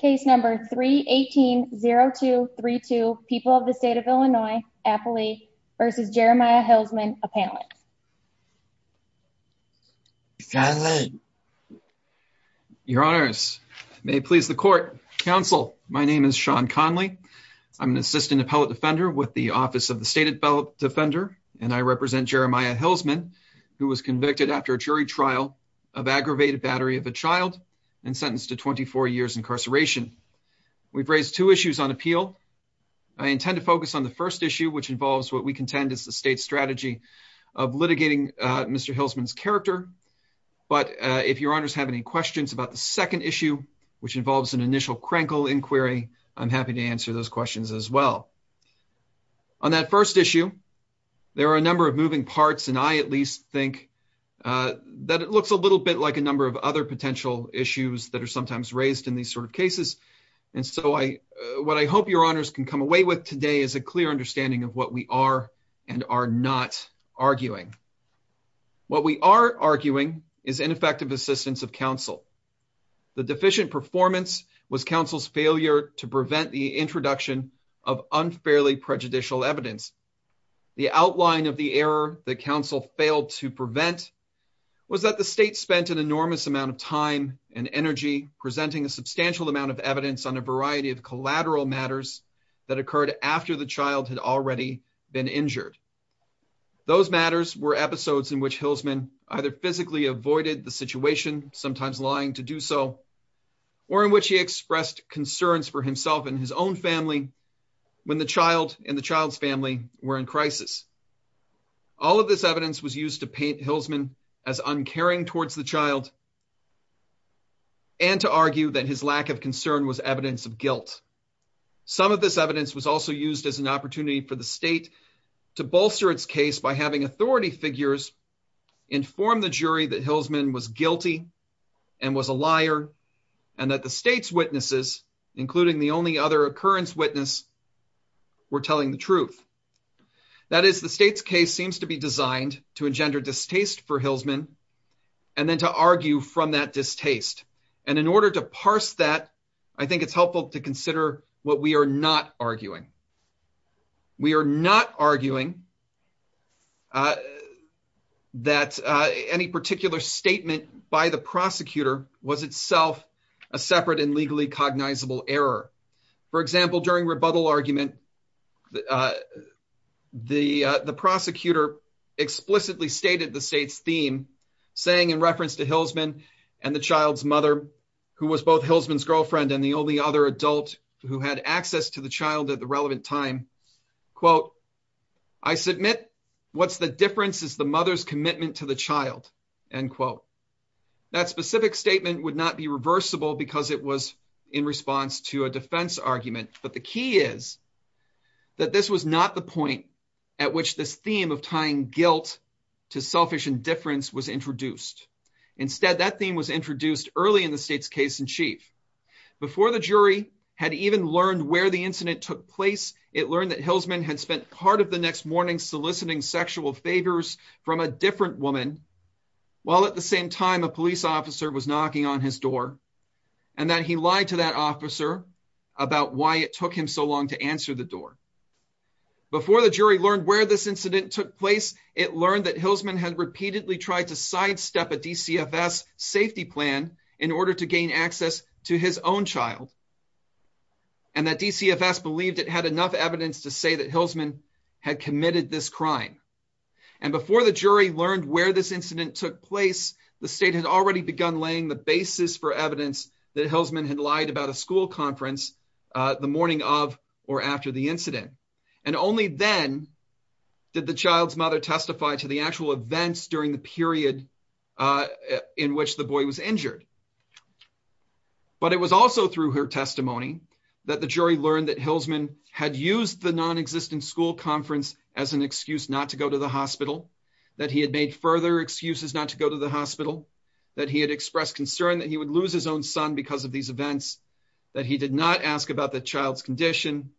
Case number 318-0232, People of the State of Illinois, Appalachia v. Jeremiah Hillsman, Appellant. Your honors, may it please the court. Counsel, my name is Sean Conley. I'm an Assistant Appellate Defender with the Office of the State Defender and I represent Jeremiah Hillsman who was convicted after a jury trial of aggravated battery of a child and sentenced to 24 years incarceration. We've raised two issues on appeal. I intend to focus on the first issue which involves what we contend is the state's strategy of litigating Mr. Hillsman's character, but if your honors have any questions about the second issue which involves an initial crankle inquiry, I'm happy to answer those questions as well. On that first issue, there are a number of moving parts and I at least think that it looks a little bit like a number of other potential issues that are sometimes raised in these sort of cases and so what I hope your honors can come away with today is a clear understanding of what we are and are not arguing. What we are arguing is ineffective assistance of counsel. The deficient performance was counsel's failure to prevent the introduction of unfairly prejudicial evidence. The outline of the error that counsel failed to prevent was that the state spent an enormous amount of time and energy presenting a substantial amount of evidence on a variety of collateral matters that occurred after the child had already been injured. Those matters were episodes in which Hillsman either physically avoided the situation, sometimes lying to do so, or in which he expressed concerns for himself and his own family when the child and the child's family were in crisis. All of this evidence was used to paint Hillsman as uncaring towards the child and to argue that his lack of concern was evidence of guilt. Some of this evidence was also used as an opportunity for the state to bolster its case by having authority figures inform the jury that Hillsman was guilty and was a liar and that the state's witnesses, including the only other occurrence witness, were telling the truth. That is, the state's case seems to be designed to engender distaste for Hillsman and then to argue from that distaste and in order to parse that, I think it's helpful to consider what we are not arguing. We are not arguing that any particular statement by the prosecutor was itself a separate and legally cognizable error. For example, during rebuttal argument, the prosecutor explicitly stated the state's theme, saying in reference to Hillsman and the child's mother, who was both Hillsman's girlfriend and the only other adult who had access to the child at the relevant time, quote, I submit what's the difference is the mother's commitment to the child, end quote. That specific statement would not be reversible because it was in response to a defense argument, but the key is that this was not the point at which this theme was introduced early in the state's case in chief. Before the jury had even learned where the incident took place, it learned that Hillsman had spent part of the next morning soliciting sexual favors from a different woman while at the same time a police officer was knocking on his door and that he lied to that officer about why it took him so long to answer the door. Before the jury learned where this incident took place, it learned that Hillsman had repeatedly tried to sidestep a DCFS safety plan in order to gain access to his own child, and that DCFS believed it had enough evidence to say that Hillsman had committed this crime. And before the jury learned where this incident took place, the state had already begun laying the basis for evidence that Hillsman had lied about a school conference the morning of or to the actual events during the period in which the boy was injured. But it was also through her testimony that the jury learned that Hillsman had used the non-existent school conference as an excuse not to go to the hospital, that he had made further excuses not to go to the hospital, that he had expressed concern that he would lose his own son because of these events, that he did not ask about the child's condition,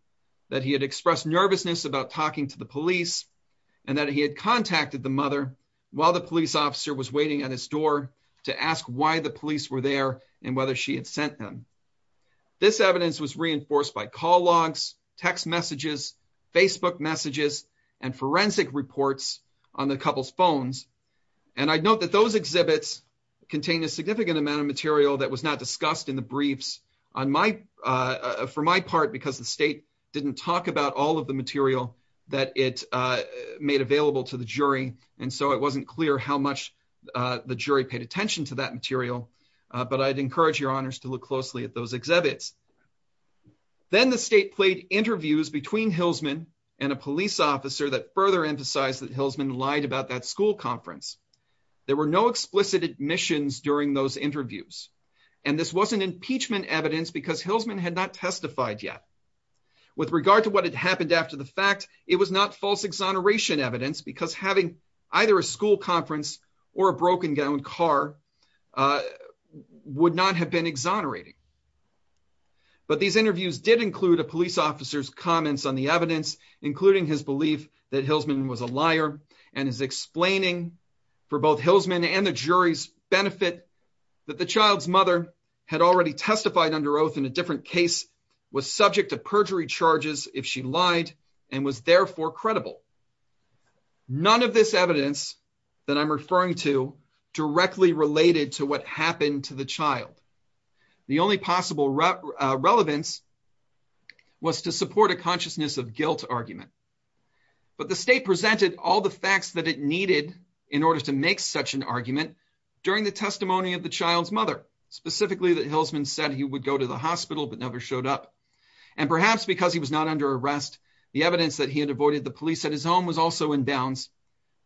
that he had expressed nervousness about talking to the police, and that he had contacted the mother while the police officer was waiting at his door to ask why the police were there and whether she had sent him. This evidence was reinforced by call logs, text messages, Facebook messages, and forensic reports on the couple's phones, and I note that those exhibits contain a significant amount of material that was not discussed in the briefs for my part because the state didn't talk about all of the material that it made available to the jury, and so it wasn't clear how much the jury paid attention to that material, but I'd encourage your honors to look closely at those exhibits. Then the state played interviews between Hillsman and a police officer that further emphasized that Hillsman lied about that school conference. There were no explicit admissions during those interviews, and this wasn't impeachment evidence because Hillsman had not testified yet. With regard to what had happened after the fact, it was not false exoneration evidence because having either a school conference or a broken-down car would not have been exonerating, but these interviews did include a police officer's comments on the evidence, including his belief that Hillsman was a liar and his explaining for both Hillsman and the jury's that the child's mother had already testified under oath in a different case, was subject to perjury charges if she lied, and was therefore credible. None of this evidence that I'm referring to directly related to what happened to the child. The only possible relevance was to support a consciousness of guilt argument, but the state presented all the facts that it child's mother, specifically that Hillsman said he would go to the hospital but never showed up, and perhaps because he was not under arrest, the evidence that he had avoided the police at his home was also in bounds,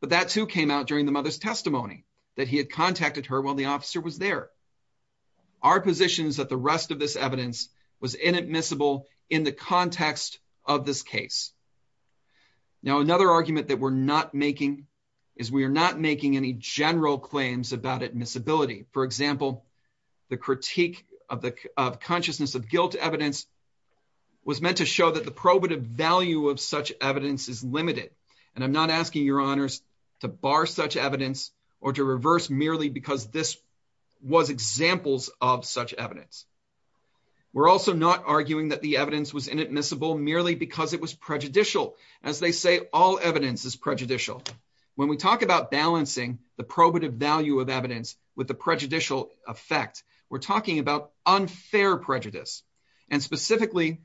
but that too came out during the mother's testimony that he had contacted her while the officer was there. Our position is that the rest of this evidence was inadmissible in the context of this case. Now another argument that we're not making is we are not making any general claims about admissibility. For example, the critique of consciousness of guilt evidence was meant to show that the probative value of such evidence is limited, and I'm not asking your honors to bar such evidence or to reverse merely because this was examples of such evidence. We're also not arguing that the evidence was inadmissible merely because it was prejudicial, as they say all evidence is prejudicial. When we talk about balancing the probative value of evidence with the prejudicial effect, we're talking about unfair prejudice, and specifically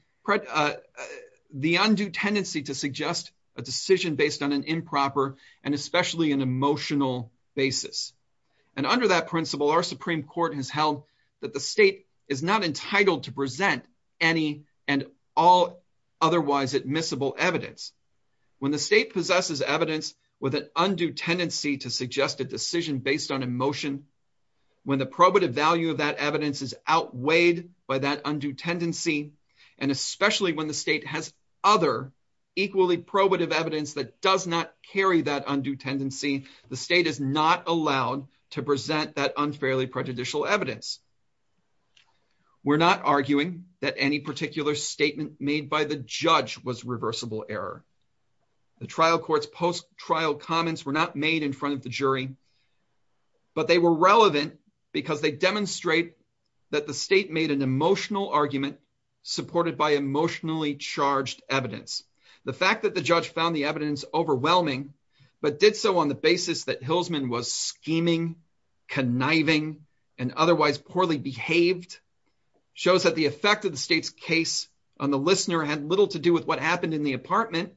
the undue tendency to suggest a decision based on an improper and especially an emotional basis, and under that principle our Supreme Court has held that the state is not entitled to present any and all otherwise admissible evidence. When the state possesses evidence with an undue tendency to suggest a decision based on emotion, when the probative value of that evidence is outweighed by that undue tendency, and especially when the state has other equally probative evidence that does not carry that undue tendency, the state is not allowed to present that unfairly prejudicial evidence. We're not arguing that any particular statement made by the judge was reversible error. The trial court's post-trial comments were not made in front of the jury, but they were relevant because they demonstrate that the state made an emotional argument supported by emotionally charged evidence. The fact that the judge found the evidence overwhelming but did so on the basis that Hilsman was scheming, conniving, and otherwise poorly behaved shows that the effect of the state's case on the listener had little to do with what happened in the apartment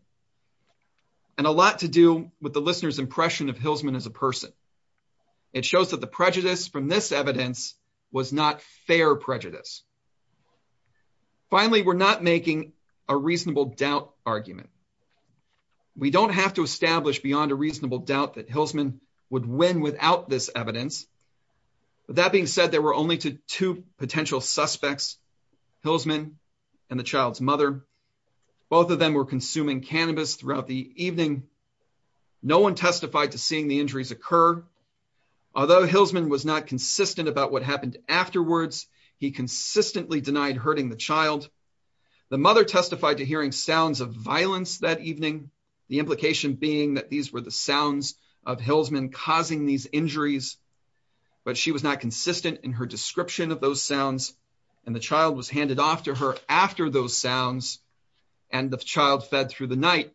and a lot to do with the listener's impression of Hilsman as a person. It shows that the prejudice from this evidence was not fair prejudice. Finally, we're not making a reasonable doubt argument. We don't have to establish beyond a reasonable doubt that Hilsman would win without this evidence, but that being said, there were only two potential suspects, Hilsman and the child's mother. Both of them were consuming cannabis throughout the evening. No one testified to seeing the injuries occur. Although Hilsman was not consistent about what happened afterwards, he consistently denied hurting the child. The mother testified to hearing sounds of violence that evening, the implication being that these were the sounds of Hilsman causing these injuries, but she was not consistent in her description of those sounds and the child was handed off to her after those sounds and the child fed through the night.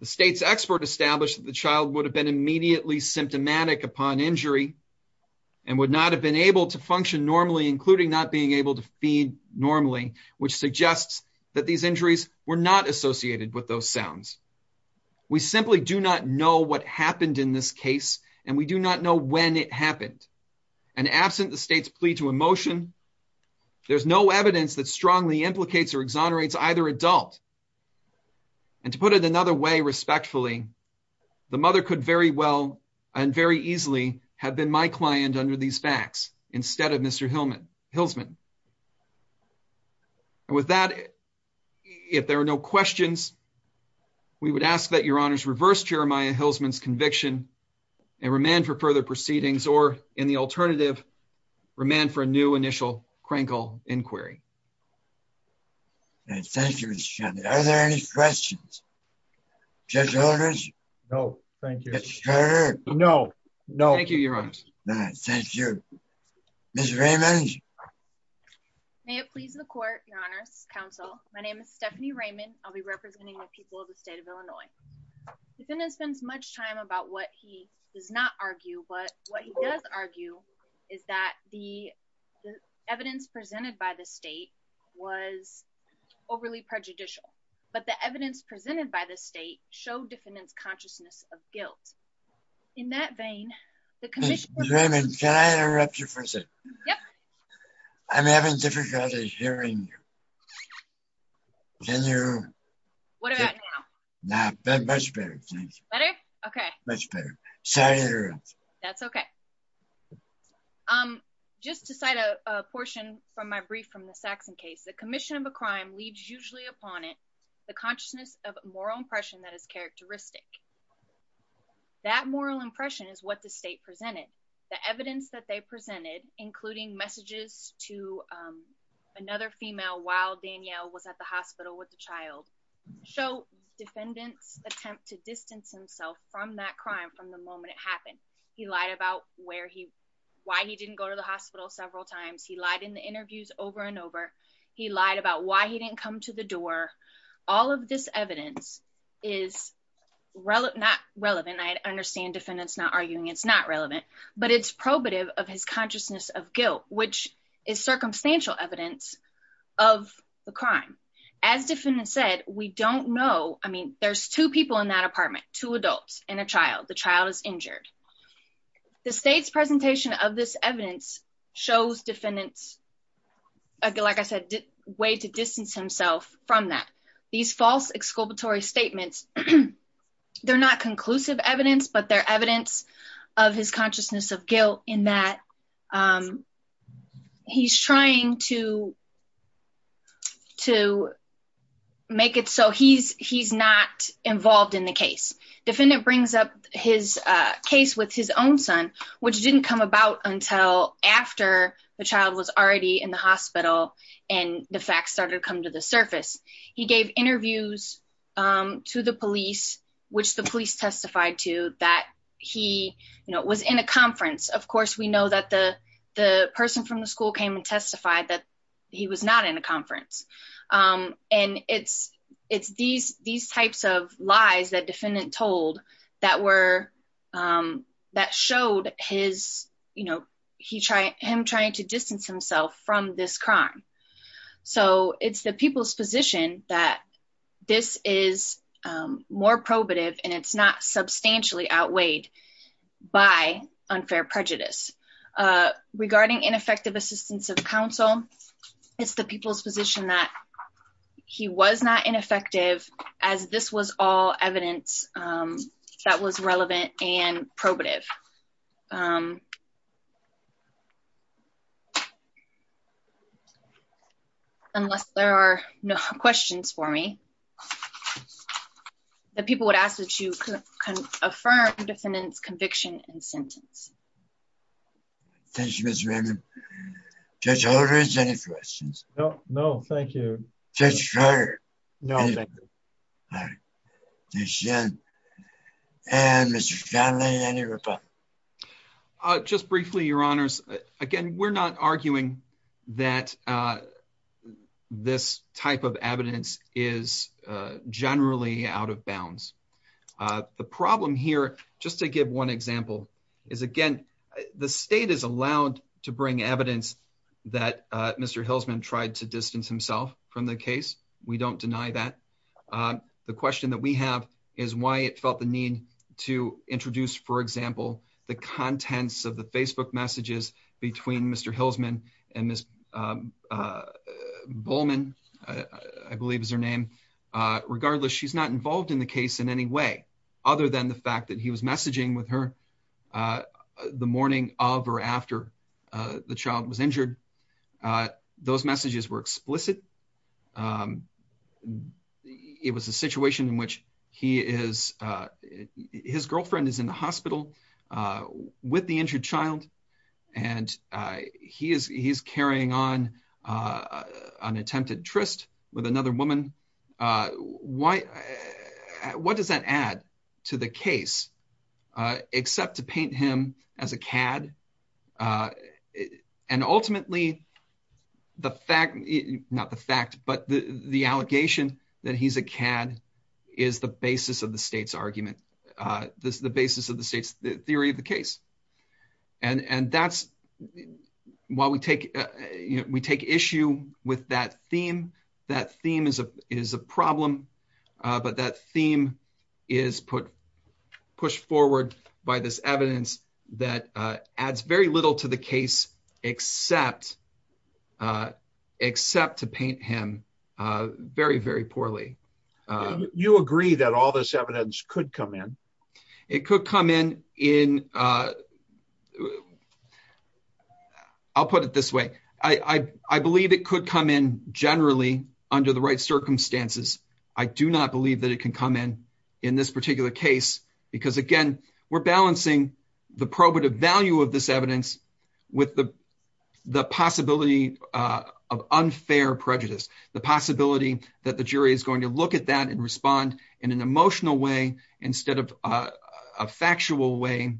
The state's expert established that the child would have been immediately symptomatic upon injury and would not have been able to function normally, including not being able to feed normally, which suggests that these injuries were not associated with those sounds. We simply do not know what happened in this case and we do not know when it happened. And absent the state's plea to emotion, there's no evidence that strongly implicates or exonerates either adult. And to put it another way, respectfully, the mother could very well and very easily have been my client under these facts instead of Mr. Hilsman. And with that, if there are no questions, we would ask that your honors reverse Jeremiah Hilsman's conviction and remand for further proceedings or in the alternative, remand for a new initial inquiry. Thank you, Mr. Chairman. Are there any questions? It please the court, your honors counsel. My name is Stephanie Raymond. I'll be representing the people of the state of Illinois. The defendant spends much time about what he does not argue. But what he does argue is that the evidence presented by the state was overly prejudicial, but the evidence presented by the state show defendant's consciousness of guilt. In that vein, the commission. I'm having difficulty hearing you. What about now? Much better. Better? Okay. Much better. Sorry. That's okay. Just to cite a portion from my brief from the Saxon case, the commission of a crime leaves usually upon it the consciousness of moral impression that is characteristic. That moral impression is what the state presented. The evidence that they presented, including messages to, um, another female while Danielle was at the hospital with the child show defendants attempt to distance himself from that crime. From the moment it happened, he lied about where he, why he didn't go to the hospital several times. He lied in the interviews over and over. He lied about why he didn't come to the door. All of this evidence is relevant, not relevant. I understand defendants not arguing. It's not relevant, but it's probative of his consciousness of guilt, which is circumstantial evidence of the crime. As defendants said, we don't know. I mean, there's two people in that apartment, two adults and a child. The child is injured. The state's presentation of this evidence shows defendants, like I said, way to distance himself from that. These false exculpatory statements, they're not conclusive evidence, but they're evidence of his consciousness of guilt in that, um, he's trying to, to make it. So he's, he's not involved in the case. Defendant brings up his, uh, case with his own son, which didn't come about until after the child was already in the hospital and the facts started to come to the surface. He gave interviews, um, to the police, which the police testified to that he was in a conference. Of course, we know that the, the person from the school came and testified that he was not in a conference. Um, and it's, it's these, these types of lies that defendant told that were, um, that showed his, you know, he tried him trying to distance himself from this crime. So it's the people's position that this is, um, more probative and it's not substantially outweighed by unfair prejudice, uh, regarding ineffective assistance of counsel. It's the people's position that he was not ineffective as this was all evidence, um, that was relevant and probative. Um, unless there are no questions for me, the people would ask that you can affirm defendant's conviction and sentence. Thank you, Mr. Raymond. Judge Holder, any questions? No, no, thank you. Judge Fryer? No, thank you. All right. And Mr. Shanley, any reply? Uh, just briefly, your honors, again, we're not arguing that, uh, this type of evidence is, uh, generally out of bounds. Uh, the problem here, just to give one example is again, the state is allowed to bring evidence that, uh, Mr. Hilsman tried to distance himself from the case. We don't deny that. Um, the question that we have is why it felt the need to introduce, for example, the contents of the Facebook messages between Mr. Hilsman and Miss, um, uh, Bowman, I believe is her name. Uh, regardless, she's not involved in the case in any way other than the fact that he was messaging with her, uh, the morning of, or after, uh, the child was injured. Uh, those messages were explicit. Um, it was a situation in which he is, uh, his girlfriend is in the hospital, uh, with the injured child. And, uh, he is, he's carrying on, uh, an attempted tryst with another woman. Uh, why, what does that add to the case? Uh, except to paint him as a CAD, uh, and ultimately the fact, not the fact, but the, the allegation that he's a CAD is the basis of the state's argument. Uh, this is the basis of the state's theory of the case. And, and that's why we take, you know, we take issue with that theme. That theme is a, is a problem. Uh, but that theme is put, pushed forward by this evidence that, uh, adds very little to the case, except, uh, except to paint him, uh, very, very poorly. Uh, you agree that all this evidence could come in. It could come in in, uh, I'll put it this way. I, I, I believe it could come in generally under the right circumstances. I do not believe that it can come in, in this particular case, because again, we're balancing the probative value of this evidence with the, the possibility, uh, of unfair prejudice, the possibility that the jury is going to look at that and respond in an emotional way instead of, uh, a factual way.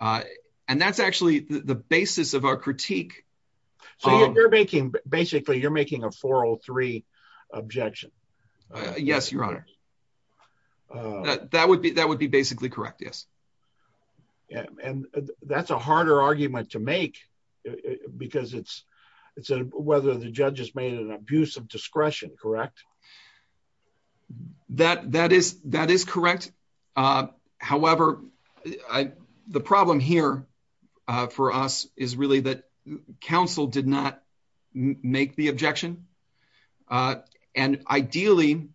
Uh, and that's actually the basis of our critique. So you're making, basically you're making a 403 objection. Uh, yes, your honor. That would be, that would be basically correct. Yes. And that's a harder argument to make because it's, it's a, whether the judge has made an abuse of discretion, correct? That, that is, that is correct. Uh, however, the problem here, uh, for us is really that counsel did not make the objection. Uh, and ideally,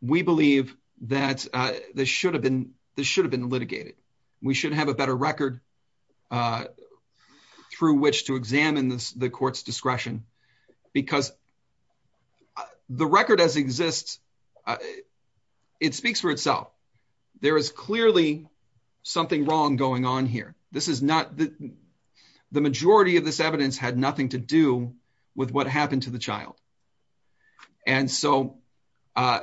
we believe that, uh, this should have been, this should have been litigated. We should have a better record because the record as exists, uh, it speaks for itself. There is clearly something wrong going on here. This is not the, the majority of this evidence had nothing to do with what happened to the child. And so, uh,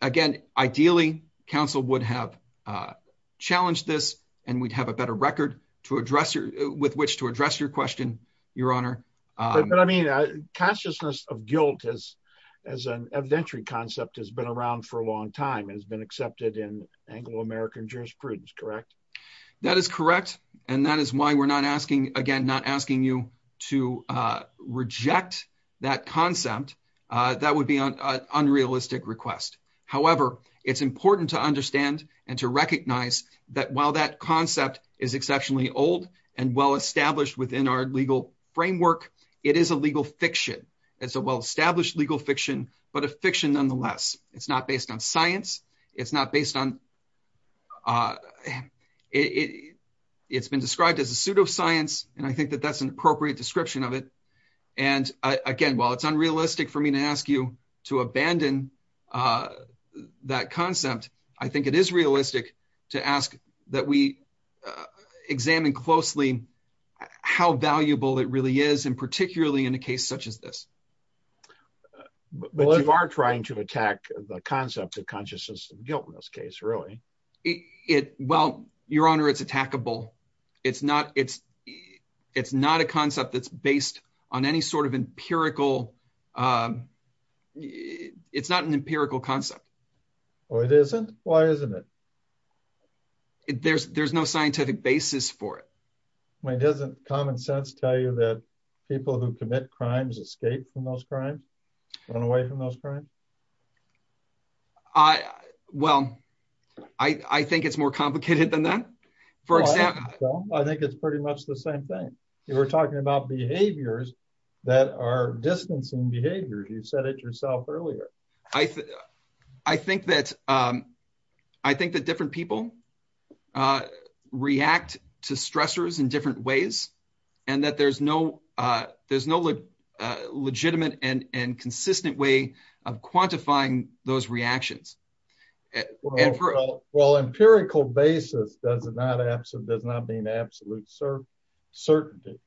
again, ideally counsel would have, uh, challenged this and we'd have a better record to address with which to address your question, your honor. Uh, but I mean, uh, consciousness of guilt has, as an evidentiary concept has been around for a long time and has been accepted in Anglo-American jurisprudence, correct? That is correct. And that is why we're not asking, again, not asking you to, uh, reject that concept. Uh, that would be an unrealistic request. However, it's important to understand and to recognize that while that concept is exceptionally old and well-established within our legal framework, it is a legal fiction. It's a well-established legal fiction, but a fiction nonetheless. It's not based on science. It's not based on, uh, it, it's been described as a pseudoscience. And I think that that's an appropriate description of it. And again, while it's unrealistic for me to ask you to abandon, uh, that concept, I think it is realistic to ask that we, uh, examine closely how valuable it really is, and particularly in a case such as this. But you are trying to attack the concept of consciousness and guilt in this case, really? It, well, your honor, it's attackable. It's not, it's, it's not a concept that's based on any sort of empirical, um, it's not an empirical concept. Oh, it isn't? Why isn't it? There's, there's no scientific basis for it. I mean, doesn't common sense tell you that people who commit crimes escape from those crimes, run away from those crimes? I, well, I, I think it's more complicated than that. I think it's pretty much the same thing. You were talking about behaviors that are distancing behaviors. You said it yourself earlier. I, I think that, um, I think that different people, uh, react to stressors in different ways and that there's no, uh, there's no, uh, legitimate and, and consistent way of quantifying those reactions. Well, empirical basis, does it not have some, does not mean absolute certainty.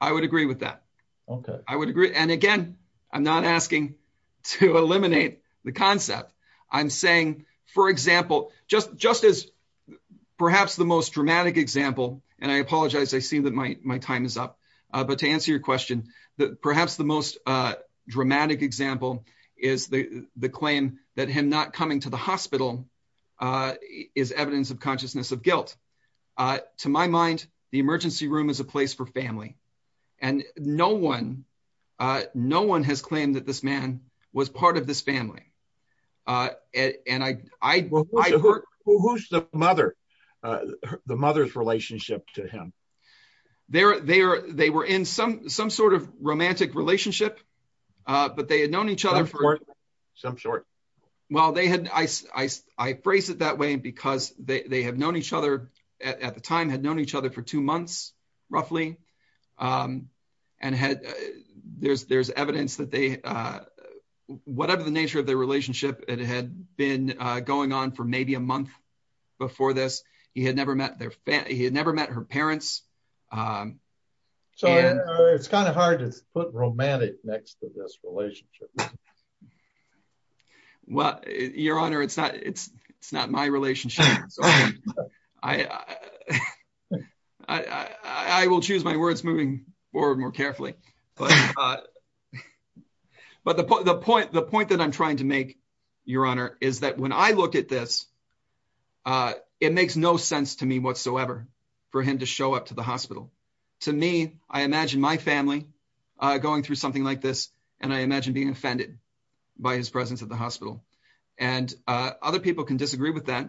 I would agree with that. Okay. I would agree. And again, I'm not asking to eliminate the concept I'm saying, for example, just, just as perhaps the most dramatic example, and I apologize. I see that my, my time is up. Uh, but to answer your question, that perhaps the most, uh, dramatic example is the, the claim that him not coming to the hospital, uh, is evidence of consciousness of guilt. Uh, to my mind, the emergency room is a place for family and no one, uh, no one has claimed that this man was part of this family. Uh, and I, I, who's the mother, uh, the mother's relationship to him there, they are, they were in some, some sort of romantic relationship, uh, but they had known each other for some short. Well, they had, I, I, I phrase it that way because they, they have known each other at the time had known each other for two months, roughly. Um, and had, uh, there's, there's evidence that they, uh, whatever the nature of their relationship, it had been going on for maybe a month before this, he had never met their family. He had never met her parents. Um, so it's kind of hard to put romantic next to this relationship. Well, your honor, it's not, it's, it's not my relationship. I, I, I, I will choose my words moving forward more carefully, but, uh, but the, the point, the point that I'm trying to make, your honor, is that when I look at this, uh, it makes no sense to me whatsoever for him to show up to the hospital. To me, I imagine my family, uh, going through something like this. And I imagine being offended by his presence at the hospital and, uh, other people can disagree with that,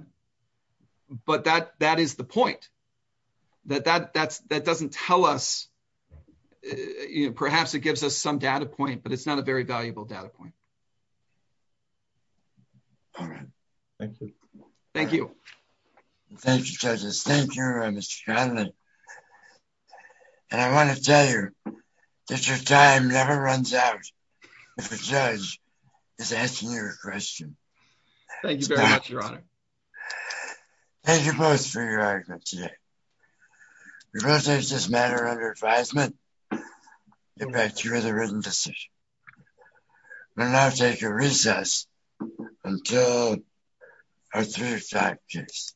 but that, that is the point that, that that's, that doesn't tell us, you know, perhaps it gives us some data point, but it's not a very valuable data point. All right. Thank you. Thank you. Thank you, judges. Thank you, Mr. Conley. And I want to tell you that your time never runs out if a judge is asking you a question. Thank you very much, your honor. Thank you both for your argument today. We will take this matter under advisement. Get back to you with a written decision. We'll now take a recess until our three o'clock case.